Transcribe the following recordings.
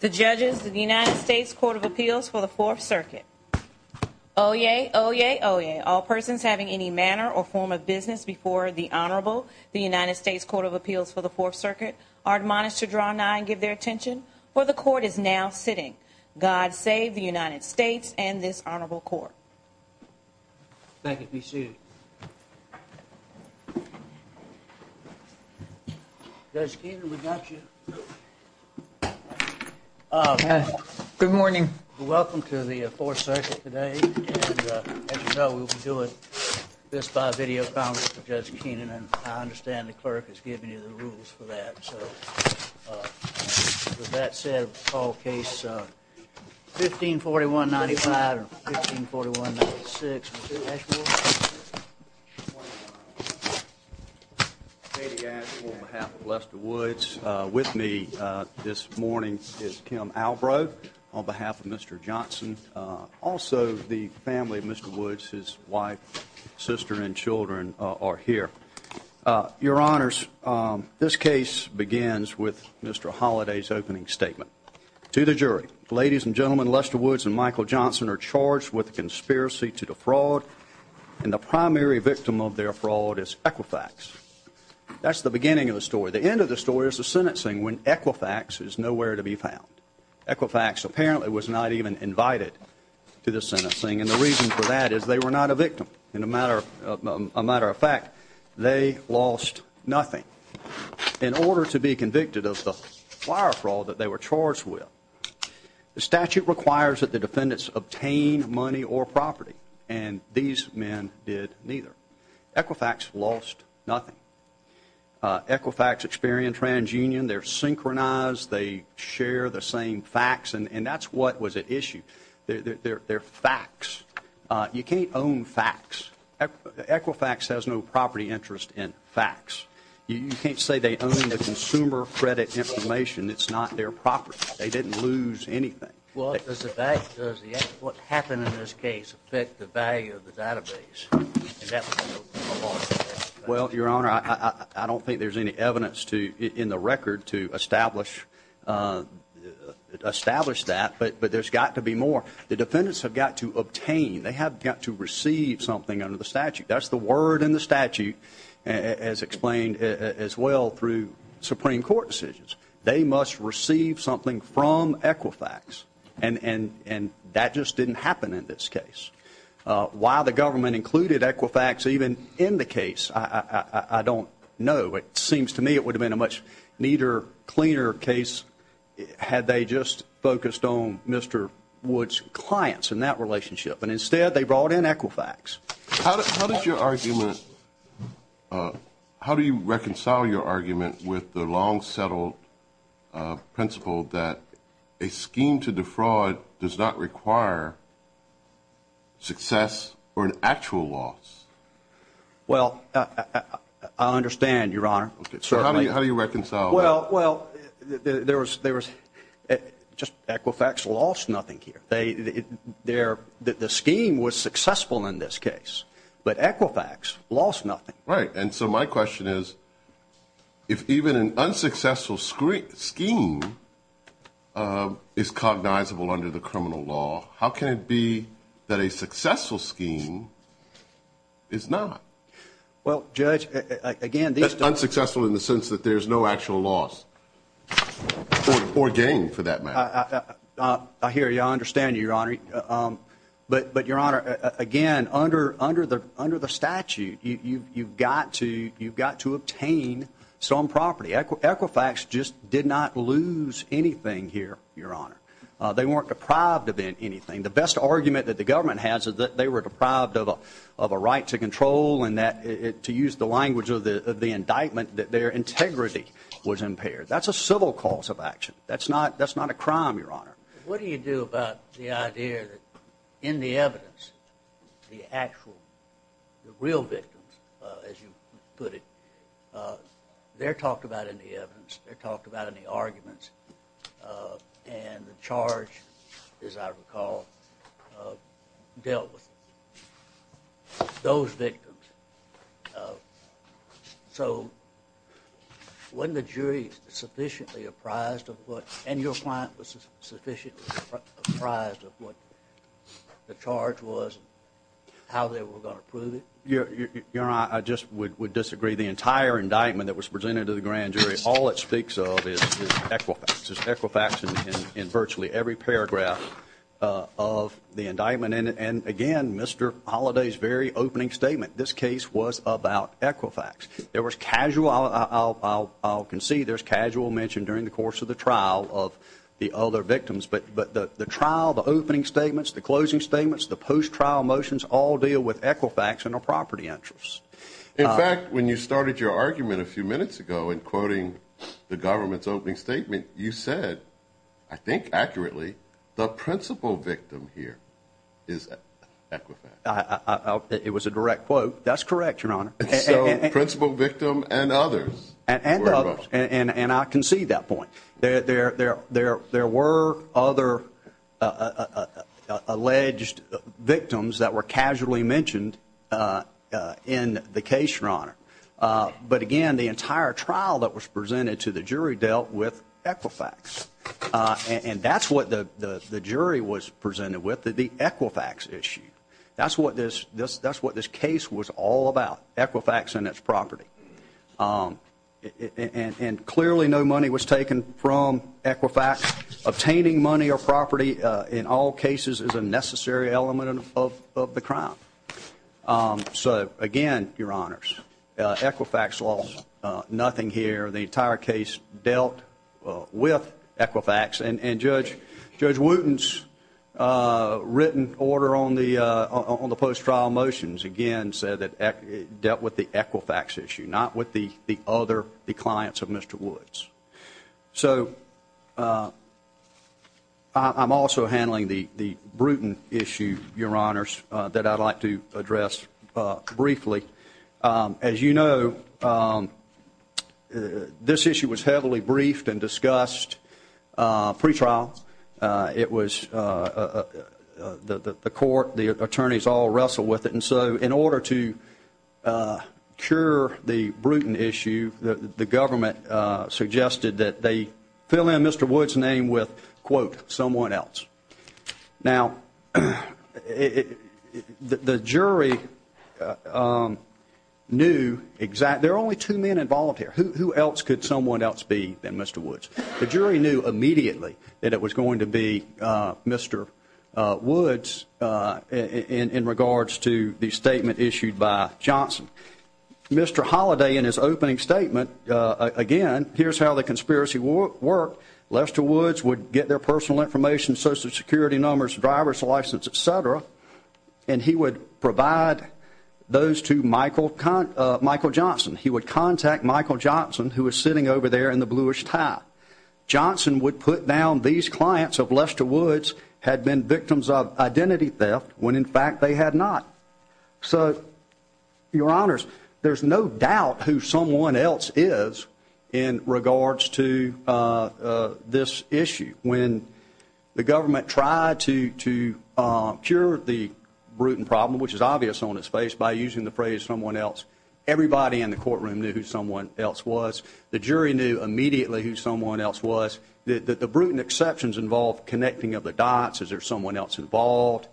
the judges of the United States Court of Appeals for the Fourth Circuit. Oh, yeah. Oh, yeah. Oh, yeah. All persons having any manner or form of business before the Honorable, the United States Court of Appeals for the Fourth Circuit are admonished to draw nine. Give their attention where the court is now sitting. God save the United States and this honorable court. Thank you. Be sued. Does even without you Uh, good morning. Welcome to the fourth circuit today. And, uh, you know, we'll be doing this by video found with Judge Keenan. And I understand the clerk has given you the rules for that. So, uh, that said, all case, uh, 15 41 95 15 41 6 Yeah. Hey, guys. On behalf of Lester Woods with me this morning is Kim Albro on behalf of Mr Johnson. Also, the family of Mr Woods, his wife, sister and Children are here. Uh, your honors. Um, this case begins with Mr Holiday's opening statement to the jury. Ladies and gentlemen, Lester Woods and Michael and the primary victim of their fraud is Equifax. That's the beginning of the story. The end of the story is the sentencing when Equifax is nowhere to be found. Equifax apparently was not even invited to the sentencing. And the reason for that is they were not a victim. In a matter of a matter of fact, they lost nothing in order to be convicted of the fire for all that they were charged with. The statute requires that the defendants obtain money or property, and these men did neither. Equifax lost nothing. Equifax Experian Trans Union. They're synchronized. They share the same facts, and that's what was at issue. They're facts. You can't own facts. Equifax has no property interest in facts. You can't say they own the consumer credit information. It's not their property. They didn't lose anything. Well, as a case, affect the value of the database. Well, Your Honor, I don't think there's any evidence to in the record to establish, uh, establish that. But but there's got to be more. The defendants have got to obtain. They have got to receive something under the statute. That's the word in the statute, as explained as well through Supreme Court decisions. They must receive something from Equifax. And and that just didn't happen in this case. Uh, why the government included Equifax even in the case? I don't know. It seems to me it would have been a much neater, cleaner case had they just focused on Mr Woods clients in that relationship, and instead they brought in Equifax. How does your argument, uh, how do you reconcile your argument with the long settled principle that a scheme to fraud does not require success or an actual loss? Well, I understand, Your Honor. How do you reconcile? Well, well, there was there was just Equifax lost nothing here. They they're the scheme was successful in this case, but Equifax lost nothing, right? And so my question is, if even an unsuccessful screen scheme, uh, is cognizable under the criminal law, how can it be that a successful scheme is not? Well, Judge, again, unsuccessful in the sense that there's no actual loss or gain for that matter. I hear you. I understand you, Your Honor. Um, but but Your Honor, again, under under the under the statute, you've got to. You've got to obtain some property. Equifax just did not lose anything here, Your Honor. They weren't deprived of anything. The best argument that the government has is that they were deprived of a of a right to control and that to use the language of the indictment that their integrity was impaired. That's a civil cause of action. That's not that's not a crime, Your Honor. What do you do about the idea that in the evidence, the actual real victims, as you put it, uh, they're talked about in the evidence. They're talked about in the large, as I recall, dealt with those victims. So when the jury sufficiently apprised of what and your client was sufficiently apprised of what the charge was, how they were going to prove it, Your Honor, I just would disagree. The entire indictment that was presented to the grand jury. All it in virtually every paragraph of the indictment. And again, Mr Holiday's very opening statement. This case was about Equifax. There was casual. I'll concede there's casual mentioned during the course of the trial of the other victims. But but the trial, the opening statements, the closing statements, the post trial motions all deal with Equifax in a property entrance. In fact, when you started your argument a few minutes ago and quoting the government's opening statement, you said, I think accurately, the principal victim here is Equifax. It was a direct quote. That's correct, Your Honor. Principal victim and others and others. And I can see that point there. There were other alleged victims that were casually mentioned in the case, Your Honor. But again, the entire trial that was presented to the jury dealt with Equifax. Uh, and that's what the jury was presented with the Equifax issue. That's what this this that's what this case was all about. Equifax and its property. Um, and clearly no money was taken from Equifax. Obtaining money or property in all cases is a necessary element of the crown. Um, so again, Your nothing here. The entire case dealt with Equifax and and Judge Judge Wooten's written order on the on the post trial motions again said that dealt with the Equifax issue, not with the other clients of Mr Woods. So, uh, I'm also handling the Bruton issue, Your Honor's that I'd like to address briefly. Um, as you know, um, this issue was heavily briefed and discussed. Uh, pretrial. It was, uh, the court, the attorneys all wrestle with it. And so in order to, uh, cure the Bruton issue, the government suggested that they fill in Mr Woods name with quote someone else. Now, the jury, um, knew exact. There are only two men involuntary. Who else could someone else be than Mr Woods? The jury knew immediately that it was going to be, uh, Mr Woods, uh, in regards to the statement issued by Johnson, Mr Holiday in his opening statement again. Here's how the conspiracy work work. Lester Woods would get their personal information, social security numbers, driver's license, etcetera. And he would provide those to Michael Michael Johnson. He would contact Michael Johnson, who was sitting over there in the bluish tie. Johnson would put down these clients of Lester Woods had been victims of identity theft when, in fact, they had not. So, Your Honor's, there's no doubt who someone else is in regards to, uh, this issue. When the government tried to cure the Bruton problem, which is obvious on his face by using the phrase someone else, everybody in the courtroom knew who someone else was. The jury knew immediately who someone else was that the Bruton exceptions involved connecting of the dots. Is there someone else involved?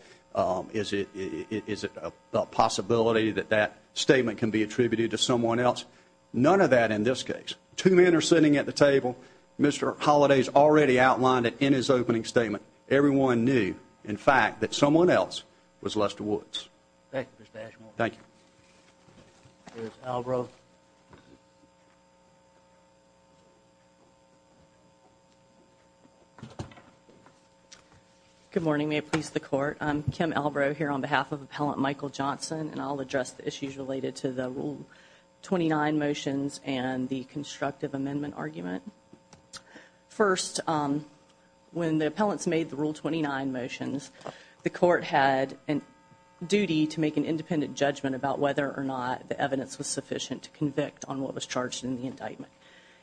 Is it? Is it a possibility that that statement can be attributed to someone else? None of that. In this case, two men are sitting at the table. Mr Holidays already outlined it in his opening statement. Everyone knew, in fact, that someone else was Lester Woods. Thank you. Albro. Good morning. May it please the court. Kim Albro here on behalf of Appellant Michael Johnson, and I'll address the issues related to the rule 29 motions and the constructive amendment argument. First, when the appellants made the rule 29 motions, the court had a duty to make an independent judgment about whether or not the evidence was sufficient to convict on what was charged in the indictment.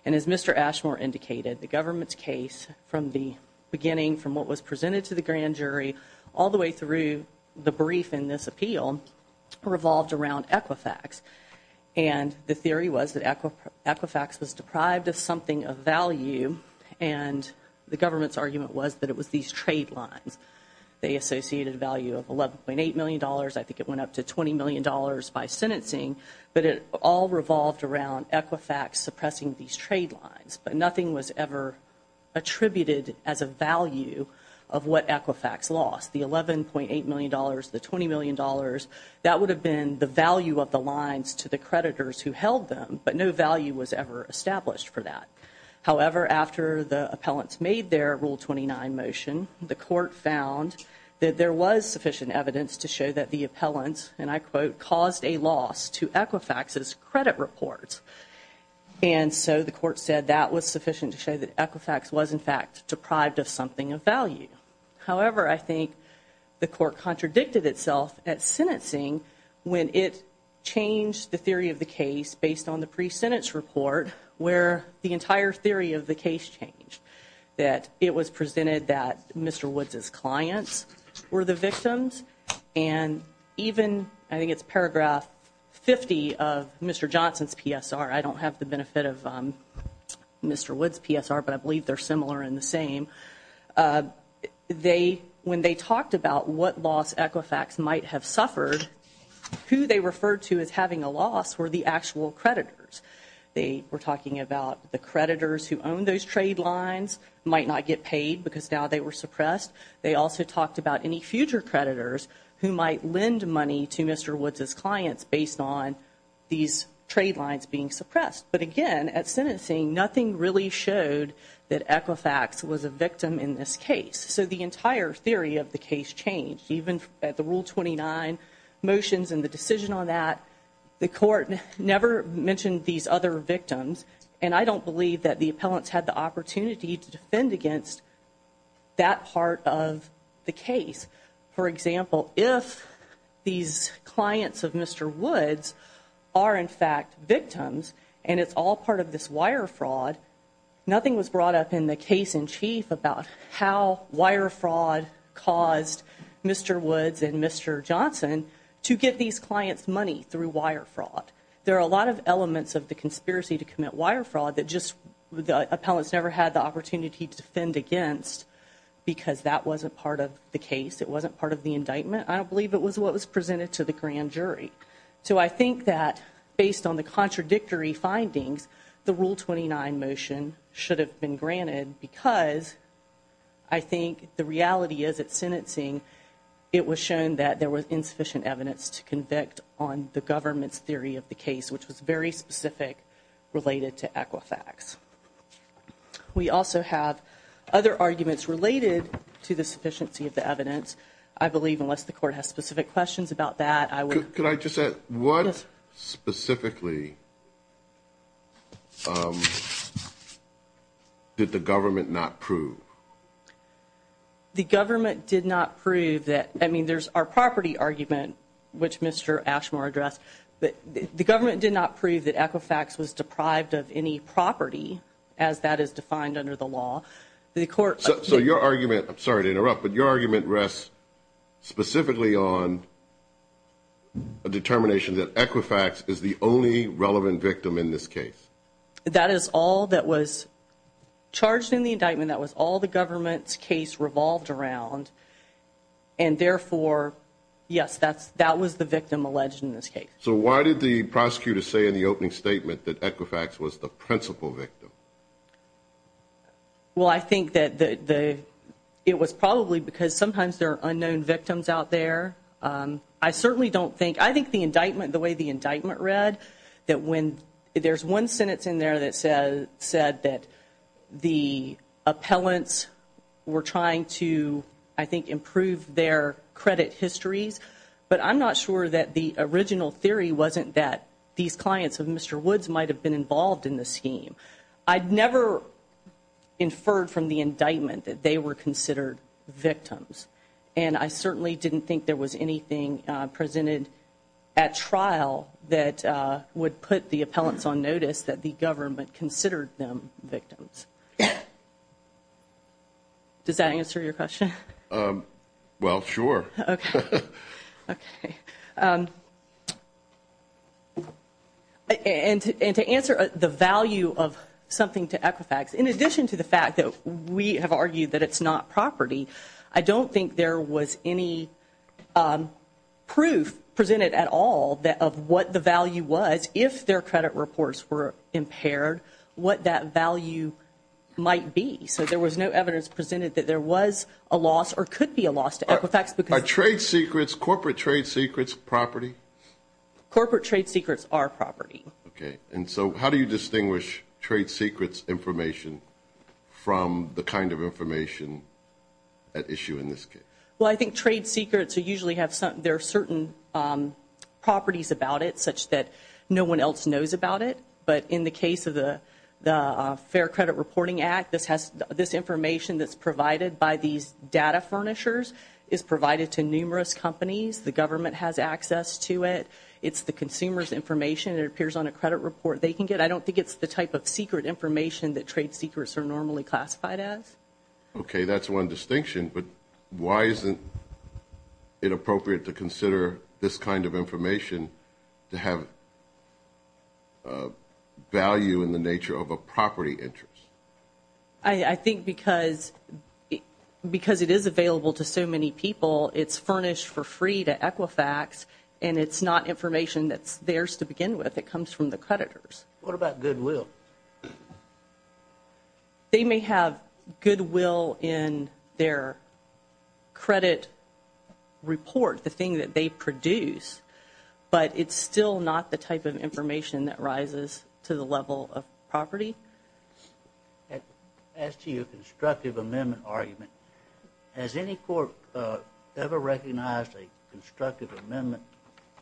And as Mr Ashmore indicated, the government's case from the beginning, from what was presented to the grand jury all the way through the brief in this appeal, revolved around Equifax. And the theory was that Equifax was deprived of something of value, and the government's argument was that it was these trade lines. They associated a value of $11.8 million. I think it went up to $20 million by sentencing, but it all revolved around Equifax suppressing these trade lines. But nothing was ever attributed as a value of what Equifax lost. The $11.8 million, the $20 million, that would have been the value of the lines to the creditors who held them, but no value was ever established for that. However, after the appellants made their rule 29 motion, the court found that there was sufficient evidence to show that the appellants, and I quote, caused a loss to Equifax's credit reports. And so the court said that was sufficient to show that Equifax was in fact deprived of something of value. However, I think the court contradicted itself at sentencing when it changed the theory of the case based on the pre-sentence report, where the entire theory of the case changed. That it was presented that Mr. Woods's clients were the victims, and even, I believe, 50 of Mr. Johnson's PSR. I don't have the benefit of Mr. Woods's PSR, but I believe they're similar in the same. They, when they talked about what loss Equifax might have suffered, who they referred to as having a loss were the actual creditors. They were talking about the creditors who owned those trade lines might not get paid because now they were suppressed. They also talked about any future creditors who might lend money to Mr. Woods's clients based on these trade lines being suppressed. But again, at sentencing, nothing really showed that Equifax was a victim in this case. So the entire theory of the case changed. Even at the Rule 29 motions and the decision on that, the court never mentioned these other victims, and I don't believe that the appellants had the opportunity to defend against that part of the case. For example, if these clients of Mr. Woods are in fact victims, and it's all part of this wire fraud, nothing was brought up in the case-in-chief about how wire fraud caused Mr. Woods and Mr. Johnson to get these clients money through wire fraud. There are a lot of elements of the conspiracy to commit wire fraud that just the appellants never had the opportunity to defend against because that wasn't part of the case. It wasn't part of the indictment. I don't believe it was what was presented to the grand jury. So I think that based on the contradictory findings, the Rule 29 motion should have been granted because I think the reality is at sentencing, it was shown that there was insufficient evidence to convict on the government's theory of the case, which was very specific related to Equifax. We also have other arguments related to the sufficiency of the evidence. I believe unless the court has specific questions about that, I would... Could I just add, what specifically did the government not prove? The government did not prove that, I mean, there's our property argument, which Mr. Ashmore addressed, but the government did not prove that Equifax was deprived of any property as that is defined under the law. The court... So your argument, I'm sorry to interrupt, but your argument is specifically on a determination that Equifax is the only relevant victim in this case? That is all that was charged in the indictment. That was all the government's case revolved around and therefore, yes, that's... that was the victim alleged in this case. So why did the prosecutor say in the opening statement that Equifax was the principal victim? Well, I think that the... It was probably because sometimes there are unknown victims out there. I certainly don't think... I think the indictment, the way the indictment read, that when... There's one sentence in there that said that the appellants were trying to, I think, improve their credit histories, but I'm not sure that the original theory wasn't that these clients of Mr. Woods might have been involved in the scheme. I'd never inferred from the indictment that they were considered victims, and I certainly didn't think there was anything presented at trial that would put the appellants on notice that the government considered them victims. Does that answer your question? Well, sure. Okay. And to answer the value of something to Equifax, in addition to the fact that we have argued that it's not property, I don't think there was any proof presented at all that of what the value was if their credit reports were impaired, what that value might be. So there was no evidence presented that there was a loss or could be a loss to Equifax because... Are trade secrets, corporate trade secrets, property? Corporate trade secrets are property. Okay. And so how do you get that information at issue in this case? Well, I think trade secrets usually have some, there are certain properties about it such that no one else knows about it, but in the case of the Fair Credit Reporting Act, this has, this information that's provided by these data furnishers is provided to numerous companies. The government has access to it. It's the consumer's information. It appears on a credit report. They can get, I don't think it's the type of secret information that trade secrets are normally classified as. Okay, that's one distinction, but why isn't it appropriate to consider this kind of information to have value in the nature of a property interest? I think because, because it is available to so many people, it's furnished for free to Equifax and it's not information that's theirs to begin with. It comes from the creditors. What they may have goodwill in their credit report, the thing that they produce, but it's still not the type of information that rises to the level of property. As to your constructive amendment argument, has any court ever recognized a constructive amendment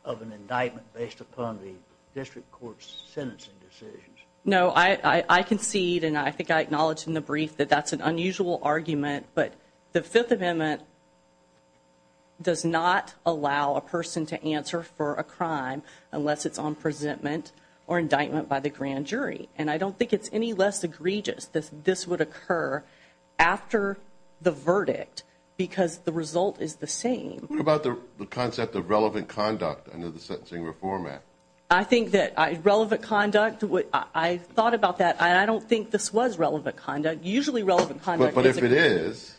of an indictment based upon the district court's sentencing decisions? No, I concede and I think I acknowledged in the brief that that's an unusual argument, but the Fifth Amendment does not allow a person to answer for a crime unless it's on presentment or indictment by the grand jury. And I don't think it's any less egregious that this would occur after the verdict because the result is the same. What about the concept of relevant conduct under the sentencing reform act? I think that relevant conduct, I thought about that. I don't think this was relevant conduct. Usually relevant conduct is. But if it is.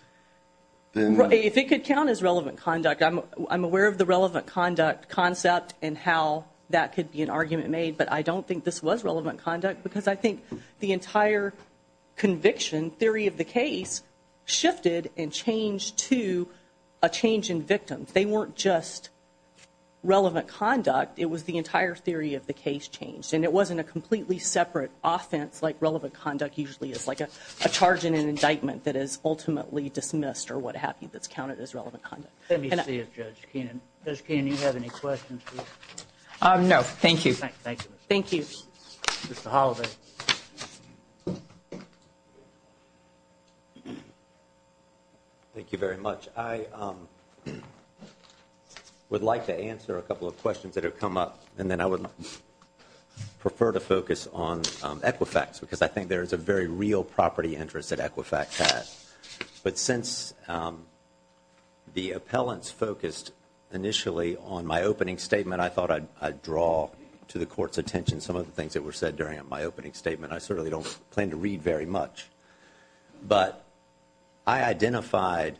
If it could count as relevant conduct, I'm aware of the relevant conduct concept and how that could be an argument made, but I don't think this was relevant conduct because I think the entire conviction theory of the case shifted and changed to a change in victims. They weren't just relevant conduct. It was the entire theory of the case changed and it wasn't a completely separate offense like relevant conduct usually is like a charge in an indictment that is ultimately dismissed or what have you that's counted as relevant conduct. Let me see if Judge Keenan, Judge Keenan, you have any questions? No, thank you. Thank you. Mr. Holliday. Thank you very much. I would like to answer a couple of questions that have come up and then I would prefer to focus on Equifax because I think there is a very real property interest that Equifax has. But since the appellants focused initially on my opening statement, I thought I'd draw to the court's I certainly don't plan to read very much, but I identified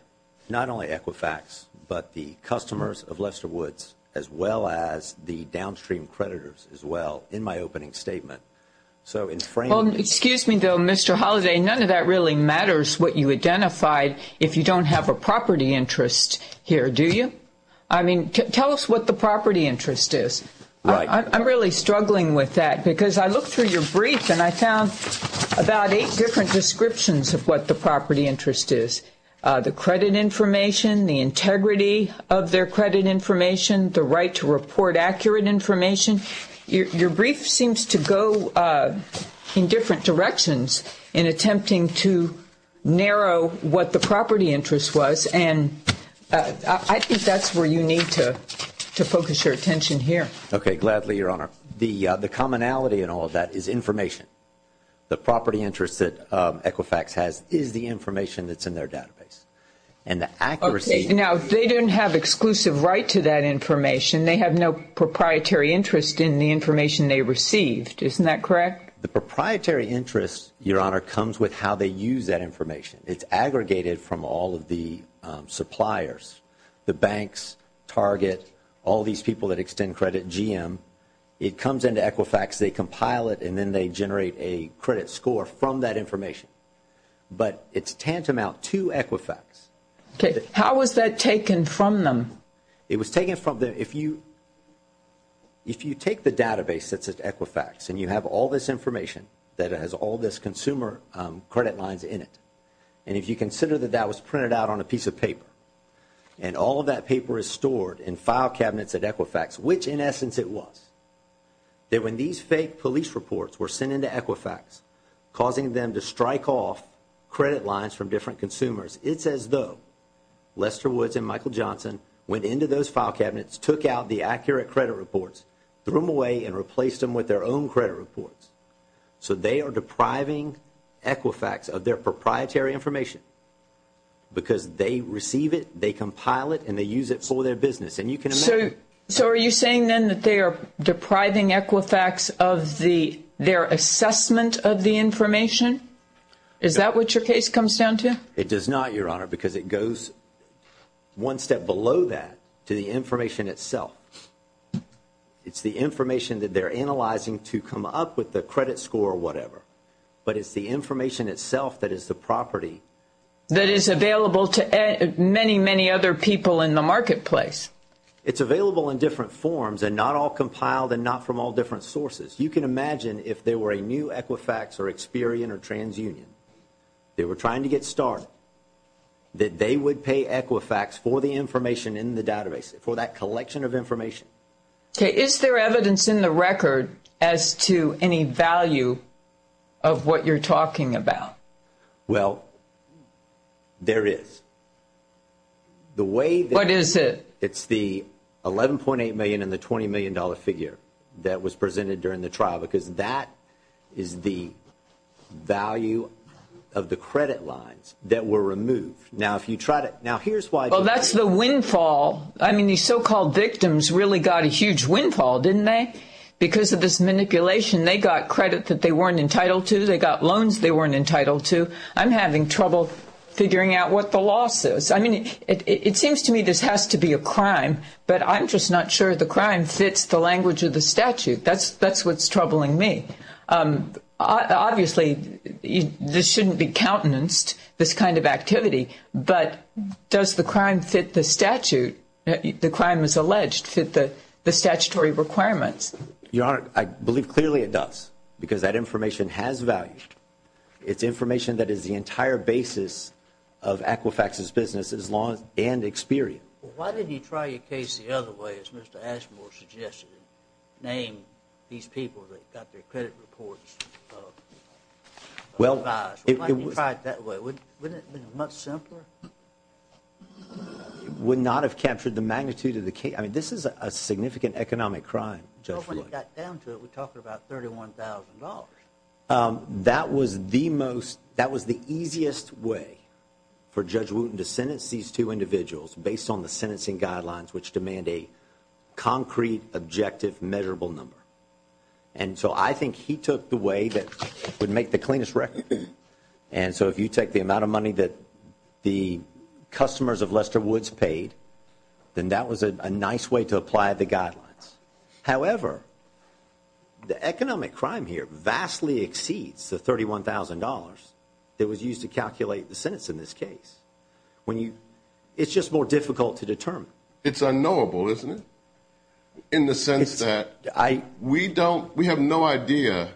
not only Equifax, but the customers of Lester Woods as well as the downstream creditors as well in my opening statement. So in framing. Excuse me though, Mr. Holliday, none of that really matters what you identified if you don't have a property interest here, do you? I mean, tell us what the property interest is. I'm really struggling with that because I looked through your brief and I found about eight different descriptions of what the property interest is. The credit information, the integrity of their credit information, the right to report accurate information. Your brief seems to go in different directions in attempting to narrow what the property interest was and I think that's where you need to focus your attention here. Okay, gladly, Your Honor. The commonality in all of that is information. The property interest that Equifax has is the information that's in their database and the accuracy. Now, if they didn't have exclusive right to that information, they have no proprietary interest in the information they received, isn't that correct? The proprietary interest, Your Honor, comes with how they use that information. It's all these people that extend credit, GM. It comes into Equifax, they compile it and then they generate a credit score from that information, but it's tantamount to Equifax. Okay, how was that taken from them? It was taken from them. If you take the database that's at Equifax and you have all this information that has all this consumer credit lines in it and if you consider that that was printed out on a piece of paper and all of that paper is stored in file cabinets at Equifax, which in essence it was, that when these fake police reports were sent into Equifax, causing them to strike off credit lines from different consumers, it's as though Lester Woods and Michael Johnson went into those file cabinets, took out the accurate credit reports, threw them away and replaced them with their own credit reports. So they are depriving Equifax of their proprietary information because they receive it, they compile it and they use it for their business. So are you saying then that they are depriving Equifax of their assessment of the information? Is that what your case comes down to? It does not, Your Honor, because it goes one step below that to the information itself. It's the information that they're analyzing to come up with the credit score or whatever, but it's the information itself that is the property. That is available to many, many other people in the marketplace. It's available in different forms and not all compiled and not from all different sources. You can imagine if there were a new Equifax or Experian or TransUnion, they were trying to get started, that they would pay Equifax for the information in the database, for that collection of information. Okay, is there evidence in the record as to any value of what you're talking about? Well, there is. What is it? It's the 11.8 million and the 20 million dollar figure that was presented during the trial because that is the value of the credit lines that were removed. Now if you try to, now here's why. Well, that's the windfall. I mean these so-called victims really got a huge windfall, didn't they? Because of this manipulation, they got credit that they weren't entitled to, they got loans they weren't entitled to. I'm having trouble figuring out what the loss is. I mean, it seems to me this has to be a crime, but I'm just not sure the crime fits the language of the statute. That's what's troubling me. Obviously, this shouldn't be countenanced, this kind of activity, but does the crime fit the statute? The crime is alleged fit the statutory requirements. Your Honor, I believe clearly it does because that information has value. It's information that is the entire basis of Equifax's business as long as, and Experian. Why didn't you try your case the other way as Mr. Ashmore suggested? Name these people that got their credit reports revised. Why didn't you try it that way? Wouldn't it have been much simpler? It would not have captured the magnitude of the case. I mean, this is a significant economic crime, Judge Wooten. When we got down to it, we're talking about $31,000. That was the most, that was the easiest way for Judge Wooten to sentence these two individuals based on the sentencing guidelines which demand a concrete, objective, measurable number. And so I think he took the way that would make the cleanest record. And so if you take the amount of the customers of Lester Woods paid, then that was a nice way to apply the guidelines. However, the economic crime here vastly exceeds the $31,000 that was used to calculate the sentence in this case. When you, it's just more difficult to determine. It's unknowable, isn't it? In the sense that, we don't, we have no idea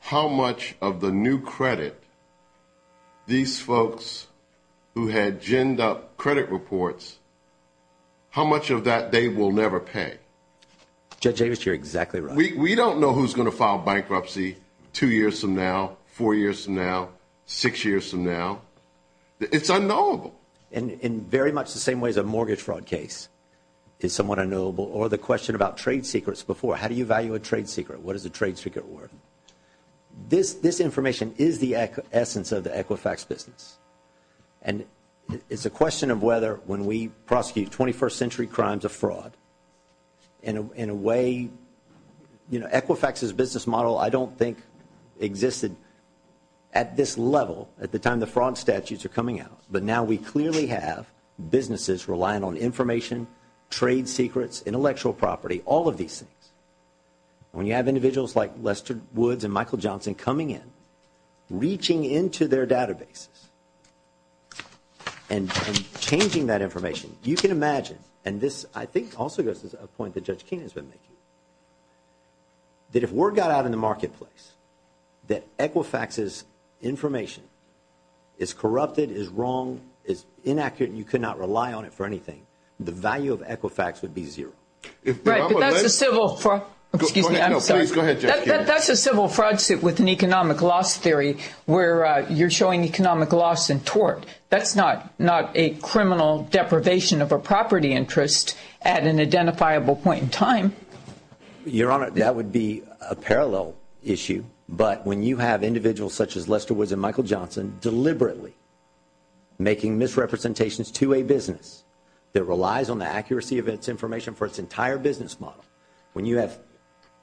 how much of the new credit these folks who had ginned up credit reports, how much of that they will never pay. Judge Davis, you're exactly right. We don't know who's going to file bankruptcy two years from now, four years from now, six years from now. It's unknowable. In very much the same way as a mortgage fraud case is somewhat unknowable. Or the question about trade secrets before, how do you information is the essence of the Equifax business. And it's a question of whether when we prosecute 21st century crimes of fraud, in a way, you know, Equifax's business model I don't think existed at this level at the time the fraud statutes are coming out. But now we clearly have businesses relying on information, trade secrets, intellectual property, all of these things. When you have individuals like Lester Woods and Michael Johnson coming in, reaching into their databases, and changing that information, you can imagine, and this I think also goes to a point that Judge Keenan has been making, that if word got out in the marketplace that Equifax's information is corrupted, is wrong, is inaccurate, and you could not rely on it for anything, the value of Equifax would be zero. Right, but that's a civil fraud, excuse me, I'm sorry, that's a civil fraud suit with an economic loss theory where you're showing economic loss in tort. That's not a criminal deprivation of a property interest at an identifiable point in time. Your Honor, that would be a parallel issue, but when you have individuals such as Lester Woods and Michael Johnson deliberately making misrepresentations to a business that relies on the accuracy of its information for its entire business model, when you have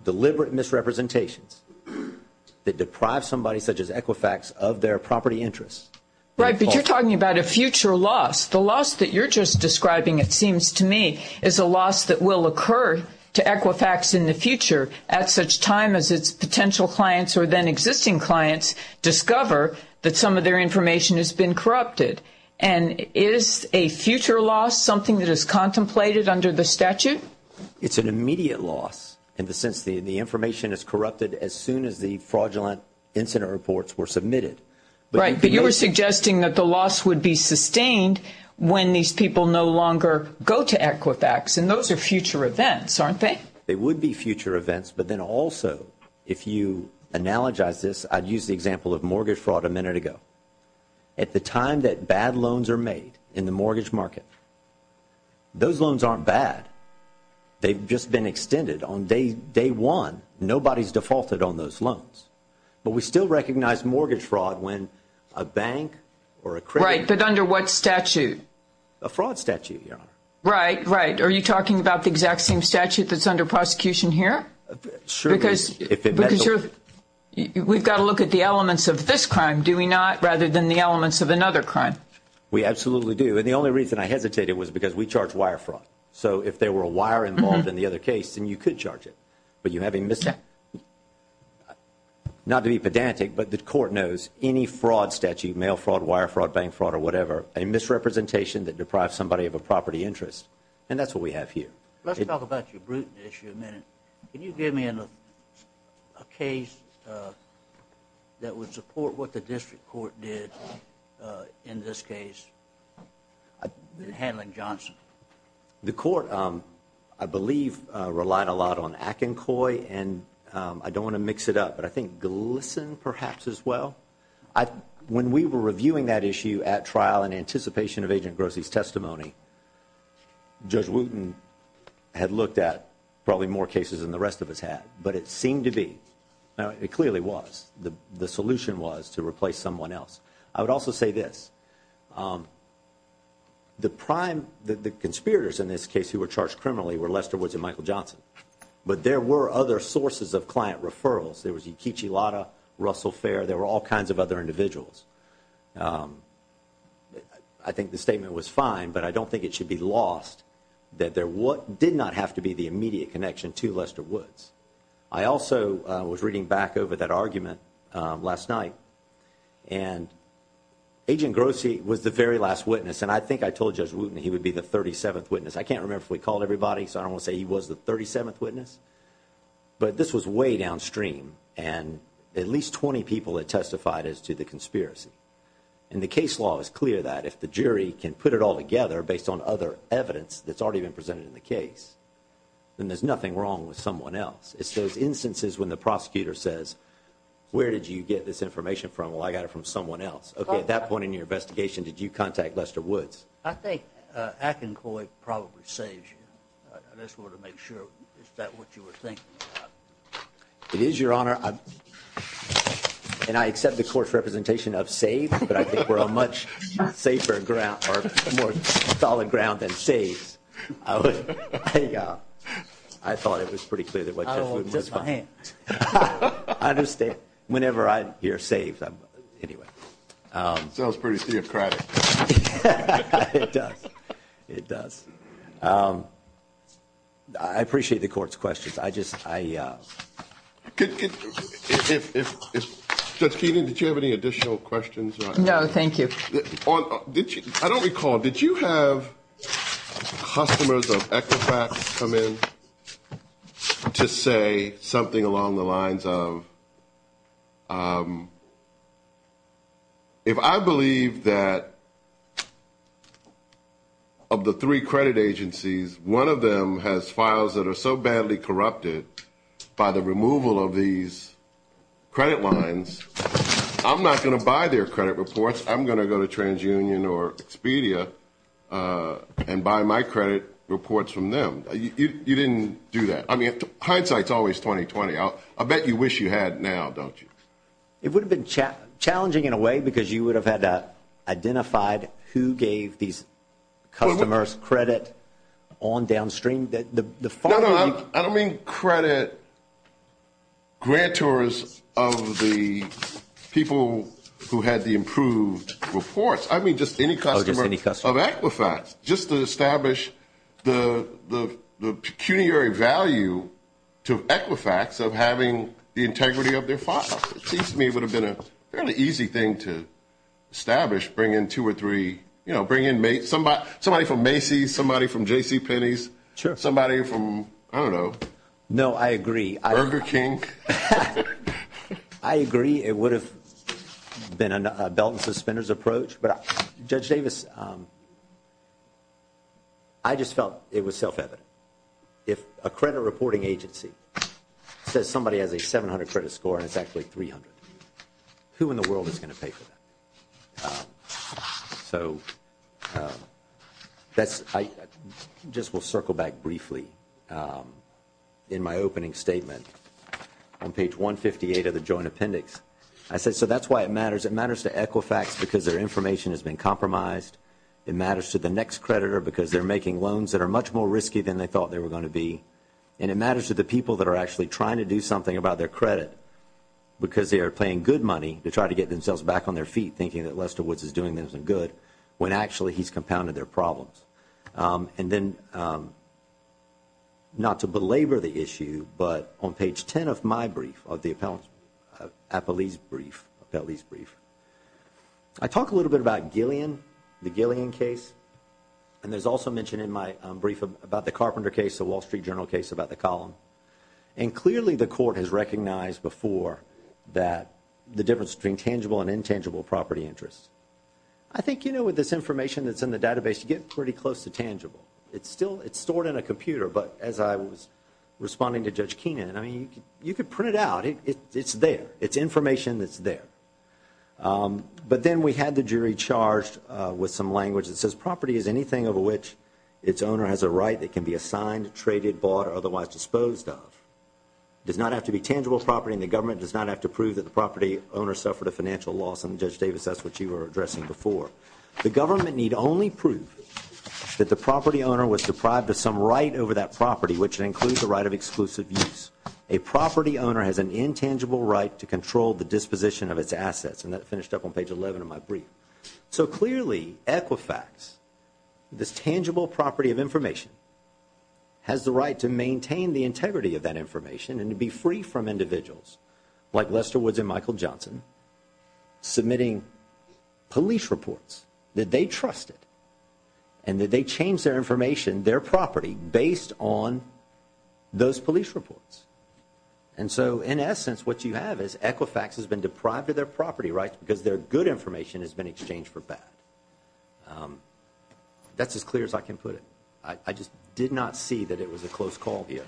deliberate misrepresentations that deprive somebody such as Equifax of their property interest. Right, but you're talking about a future loss. The loss that you're just describing, it seems to me, is a loss that will occur to Equifax in the future at such time as its potential clients or then existing clients discover that some of their information has been corrupted. And is a future loss something that is contemplated under the statute? It's an immediate loss in the sense that the information is corrupted as soon as the fraudulent incident reports were submitted. Right, but you were suggesting that the loss would be sustained when these people no longer go to Equifax, and those are future events, aren't they? They would be future events, but then also, if you analogize this, I'd use the example of mortgage fraud a minute ago. At the time that bad loans are made in the mortgage market, those loans aren't bad. They've just been extended. On day one, nobody's defaulted on those loans. But we still recognize mortgage fraud when a bank or a credit- Right, but under what statute? A fraud statute, Your Honor. Right, right. Are you talking about the exact same statute that's under prosecution here? Because we've got to look at the elements of this crime, do we not, rather than the elements of another crime? We absolutely do, and the only reason I hesitated was because we charge wire fraud. So if there were a wire involved in the other case, then you could charge it. But you have a mis- Not to be pedantic, but the court knows any fraud statute, mail fraud, wire fraud, bank fraud, or whatever, a misrepresentation that deprives somebody of a property interest. And that's what we have here. Let's talk about your Bruton issue a minute. Can you give me a case that would support what the district court did in this case in handling Johnson? The court, I believe, relied a lot on Akincoy, and I don't want to mix it up, but I think Glisson, perhaps, as well? When we were reviewing that issue at trial in anticipation of Agent Grossi's testimony, Judge Wooten had looked at probably more cases than the rest of us had, but it seemed to be, it clearly was, the solution was to replace someone else. I would also say this. The prime, the conspirators in this case who were charged criminally were Lester Woods and Michael Johnson. But there were other sources of client referrals. There was Ekeechi Lotta, Russell Fair, there were all kinds of other individuals. I think the statement was fine, but I don't think it should be lost that there did not have to be the immediate connection to Lester Woods. I also was reading back over that argument last night, and Agent Grossi was the very last witness, and I think I told Judge Wooten he would be the 37th witness. I can't remember if we called everybody, so I don't want to say he was the 37th witness, but this was way downstream. And at least 20 people had testified as to the conspiracy. And the case law is clear that if the jury can put it all together based on other evidence that's already been presented in the case, then there's nothing wrong with someone else. It's those instances when the prosecutor says, where did you get this information from? Well, I got it from someone else. Okay, at that point in your investigation, did you contact Lester Woods? I think Akincoy probably saves you. I just wanted to make sure, is that what you were thinking about? It is, Your Honor, and I accept the court's representation of saves, but I think we're on much safer ground, or more solid ground than saves. I thought it was pretty clear that what Judge Wooten was- I don't know, just my hand. I understand. Whenever I hear saves, I'm, anyway. Sounds pretty theocratic. It does. It does. I appreciate the court's questions. I just, I- If, Judge Keenan, did you have any additional questions? No, thank you. I don't recall, did you have customers of Equifax come in to say something along the lines of, if I believe that of the three credit agencies, one of them has files that are so badly corrupted by the removal of these credit lines, I'm not going to buy their credit reports. I'm going to go to TransUnion or Expedia and buy my credit reports from them. You didn't do that. I mean, hindsight's always 20-20. I bet you wish you had now, don't you? It would have been challenging in a way because you would have had to identify who gave these customers credit on downstream. The file- No, no, I don't mean credit grantors of the people who had the improved reports. I mean just any customer of Equifax. Just to establish the pecuniary value to Equifax of having the integrity of their file. It seems to me it would have been a fairly easy thing to establish, bring in two or three, bring in somebody from Macy's, somebody from JCPenney's, somebody from, I don't know. No, I agree. Burger King? I agree. It would have been a belt and suspenders approach, but Judge Davis, I just felt it was self-evident. If a credit reporting agency says somebody has a 700 credit score and it's actually 300, who in the world is going to pay for that? So, I just will circle back briefly in my opening statement on page 158 of the joint appendix. I said, so that's why it matters. It matters to Equifax because their information has been compromised. It matters to the next creditor because they're making loans that are much more risky than they thought they were going to be, and it matters to the people that are actually trying to do something about their credit because they are paying good money to try to get themselves back on their feet thinking that Lester Woods is doing them some good when actually he's compounded their problems. And then, not to belabor the issue, but on page 10 of my brief, of the appellee's brief, I talk a little bit about Gillian, the Gillian case, and there's also mention in my brief about the Carpenter case, the Wall Street Journal case about the column. And clearly, the court has recognized before that the difference between tangible and intangible property interests. I think, you know, with this information that's in the database, you get pretty close to tangible. It's still, it's stored in a computer, but as I was responding to Judge Keenan, I mean, you could print it out. It's there. It's information that's there. But then, we had the jury charged with some language that says property is anything over which its owner has a right that can be assigned, traded, bought, or otherwise disposed of. It does not have to be tangible property, and the government does not have to prove that the property owner suffered a financial loss, and Judge Davis, that's what you were addressing before. The government need only prove that the property owner was deprived of some right over that property, which includes the right of exclusive use. A property owner has an intangible right to control the disposition of its assets, and that finished up on page 11 of my brief. So, clearly, Equifax, this tangible property of information, has the right to maintain the integrity of that information and to be free from individuals like Lester Woods and Michael Johnson submitting police reports that they trusted, and that they changed their information, their property, based on those police reports. And so, in essence, what you have is Equifax has been deprived of their property rights because their good information has been exchanged for bad. That's as clear as I can put it. I just did not see that it was a close call here.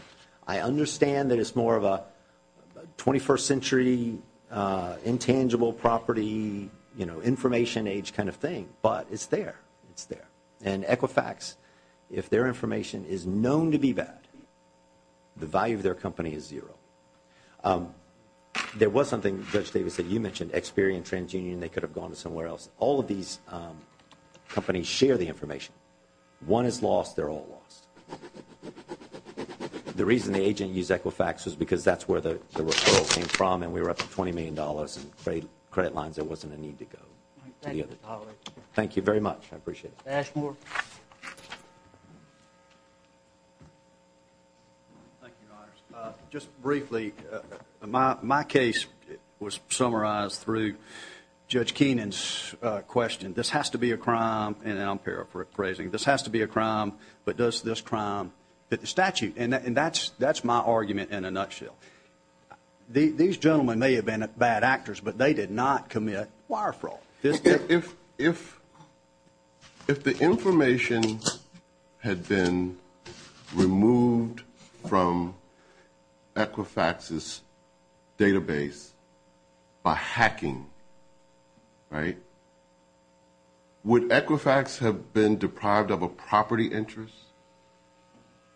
I understand that it's more of a 21st century intangible property, you know, information age kind of thing, but it's there. It's there. And Equifax, if their information is known to be bad, the value of their company is zero. There was something, Judge Davis, that you mentioned, Experian, TransUnion, they could have gone to somewhere else. All of these companies share the information. One is lost, they're all lost. The reason the agent used Equifax was because that's where the referral came from, and we were up to $20 million in credit lines. There wasn't a need to go to the other. Thank you very much. I appreciate it. Ashmore. Just briefly, my case was summarized through Judge Keenan's question. This has to be a crime, and I'm paraphrasing. This has to be a crime, but does this crime fit the statute? And that's my argument in a nutshell. These gentlemen may have been bad actors, but they did not commit wire fraud. If the information had been removed from Equifax's database by hacking, right? Would Equifax have been deprived of a property interest?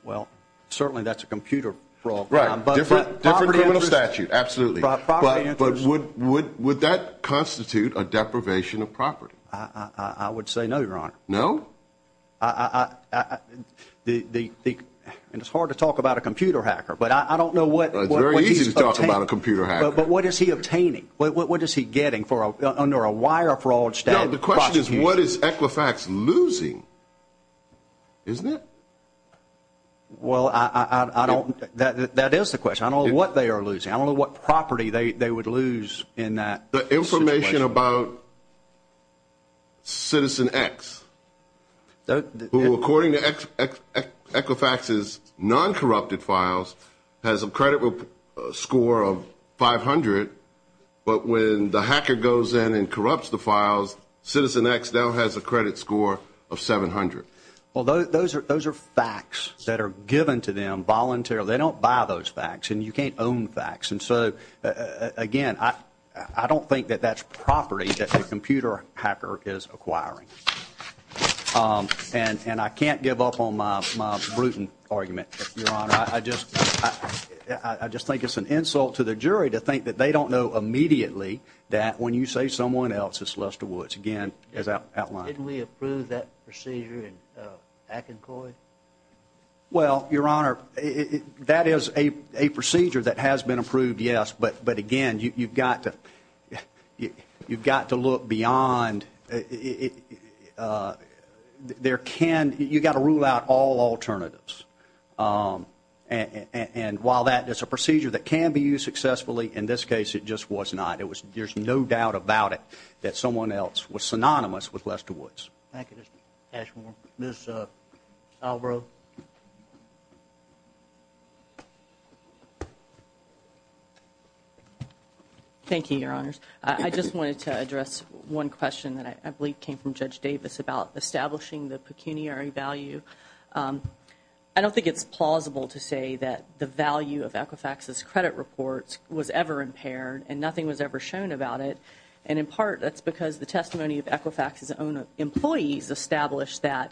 Well, certainly that's a computer fraud. Right, different criminal statute, absolutely. But would that constitute a deprivation of property? I would say no, Your Honor. No? And it's hard to talk about a computer hacker, but I don't know what- It's very easy to talk about a computer hacker. But what is he obtaining? What is he getting under a wire fraud statute? No, the question is what is Equifax losing? Isn't it? Well, that is the question. I don't know what they are losing. I don't know what property they would lose in that situation. The information about Citizen X, who according to Equifax's non-corrupted files, has a credit score of 500. But when the hacker goes in and corrupts the files, Citizen X now has a credit score of 700. Well, those are facts that are given to them voluntarily. They don't buy those facts, and you can't own facts. And so, again, I don't think that that's property that the computer hacker is acquiring. And I can't give up on my Bruton argument, Your Honor. I just think it's an insult to the jury to think that they don't know immediately that when you say someone else is Lester Woods, again, as outlined. Didn't we approve that procedure in Akincoyd? Well, Your Honor, that is a procedure that has been approved, yes. But, again, you've got to look beyond. You've got to rule out all alternatives. And while that is a procedure that can be used successfully, in this case it just was not. There's no doubt about it that someone else was synonymous with Lester Woods. Thank you, Mr. Ashmore. Ms. Alvaro. Thank you, Your Honors. I just wanted to address one question that I believe came from Judge Davis about establishing the pecuniary value. I don't think it's plausible to say that the value of Equifax's credit reports was ever impaired, and nothing was ever shown about it. And in part, that's because the testimony of Equifax's own employees established that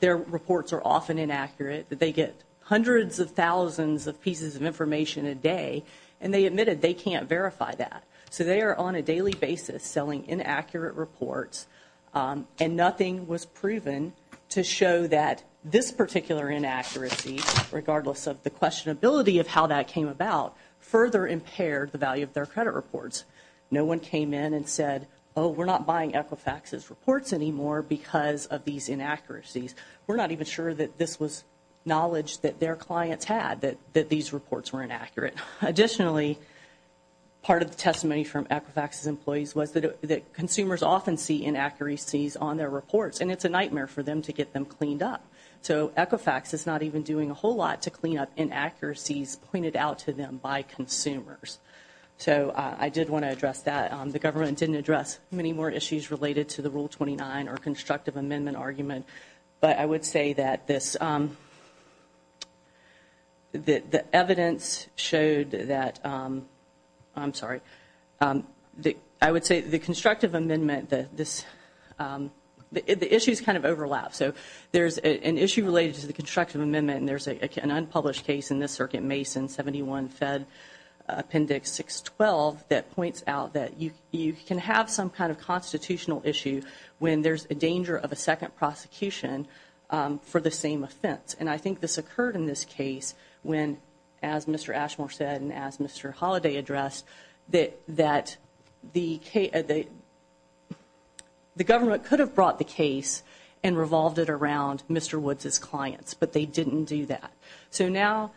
their reports are often inaccurate. That they get hundreds of thousands of pieces of information a day, and they admitted they can't verify that. So they are on a daily basis selling inaccurate reports, and nothing was proven to show that this particular inaccuracy, regardless of the questionability of how that came about, further impaired the value of their credit reports. No one came in and said, we're not buying Equifax's reports anymore because of these inaccuracies. We're not even sure that this was knowledge that their clients had, that these reports were inaccurate. Additionally, part of the testimony from Equifax's employees was that consumers often see inaccuracies on their reports. And it's a nightmare for them to get them cleaned up. So Equifax is not even doing a whole lot to clean up inaccuracies pointed out to them by consumers. So I did want to address that. The government didn't address many more issues related to the Rule 29 or constructive amendment argument. But I would say that this, The evidence showed that, I'm sorry. I would say the constructive amendment, the issues kind of overlap. So there's an issue related to the constructive amendment, and there's an unpublished case in this circuit, Mason 71 Fed Appendix 612, that points out that you can have some kind of constitutional issue when there's a danger of a second prosecution for the same offense. And I think this occurred in this case when, as Mr. Ashmore said and as Mr. Holliday addressed, that the government could have brought the case and revolved it around Mr. Woods' clients, but they didn't do that. So now,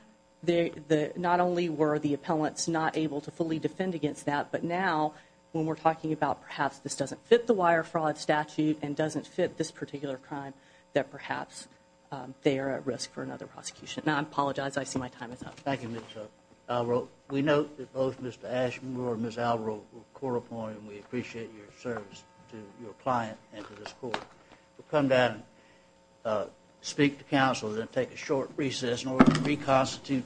not only were the appellants not able to fully defend against that, but now when we're talking about perhaps this doesn't fit the wire fraud statute and doesn't fit this particular crime, that perhaps they are at risk for another prosecution. Now I apologize, I see my time is up. Thank you, Ms. Alvaro. We note that both Mr. Ashmore and Ms. Alvaro were court appointed, and we appreciate your service to your client and to this court. We'll come down and speak to counsel, then take a short recess in order to reconstitute the panel.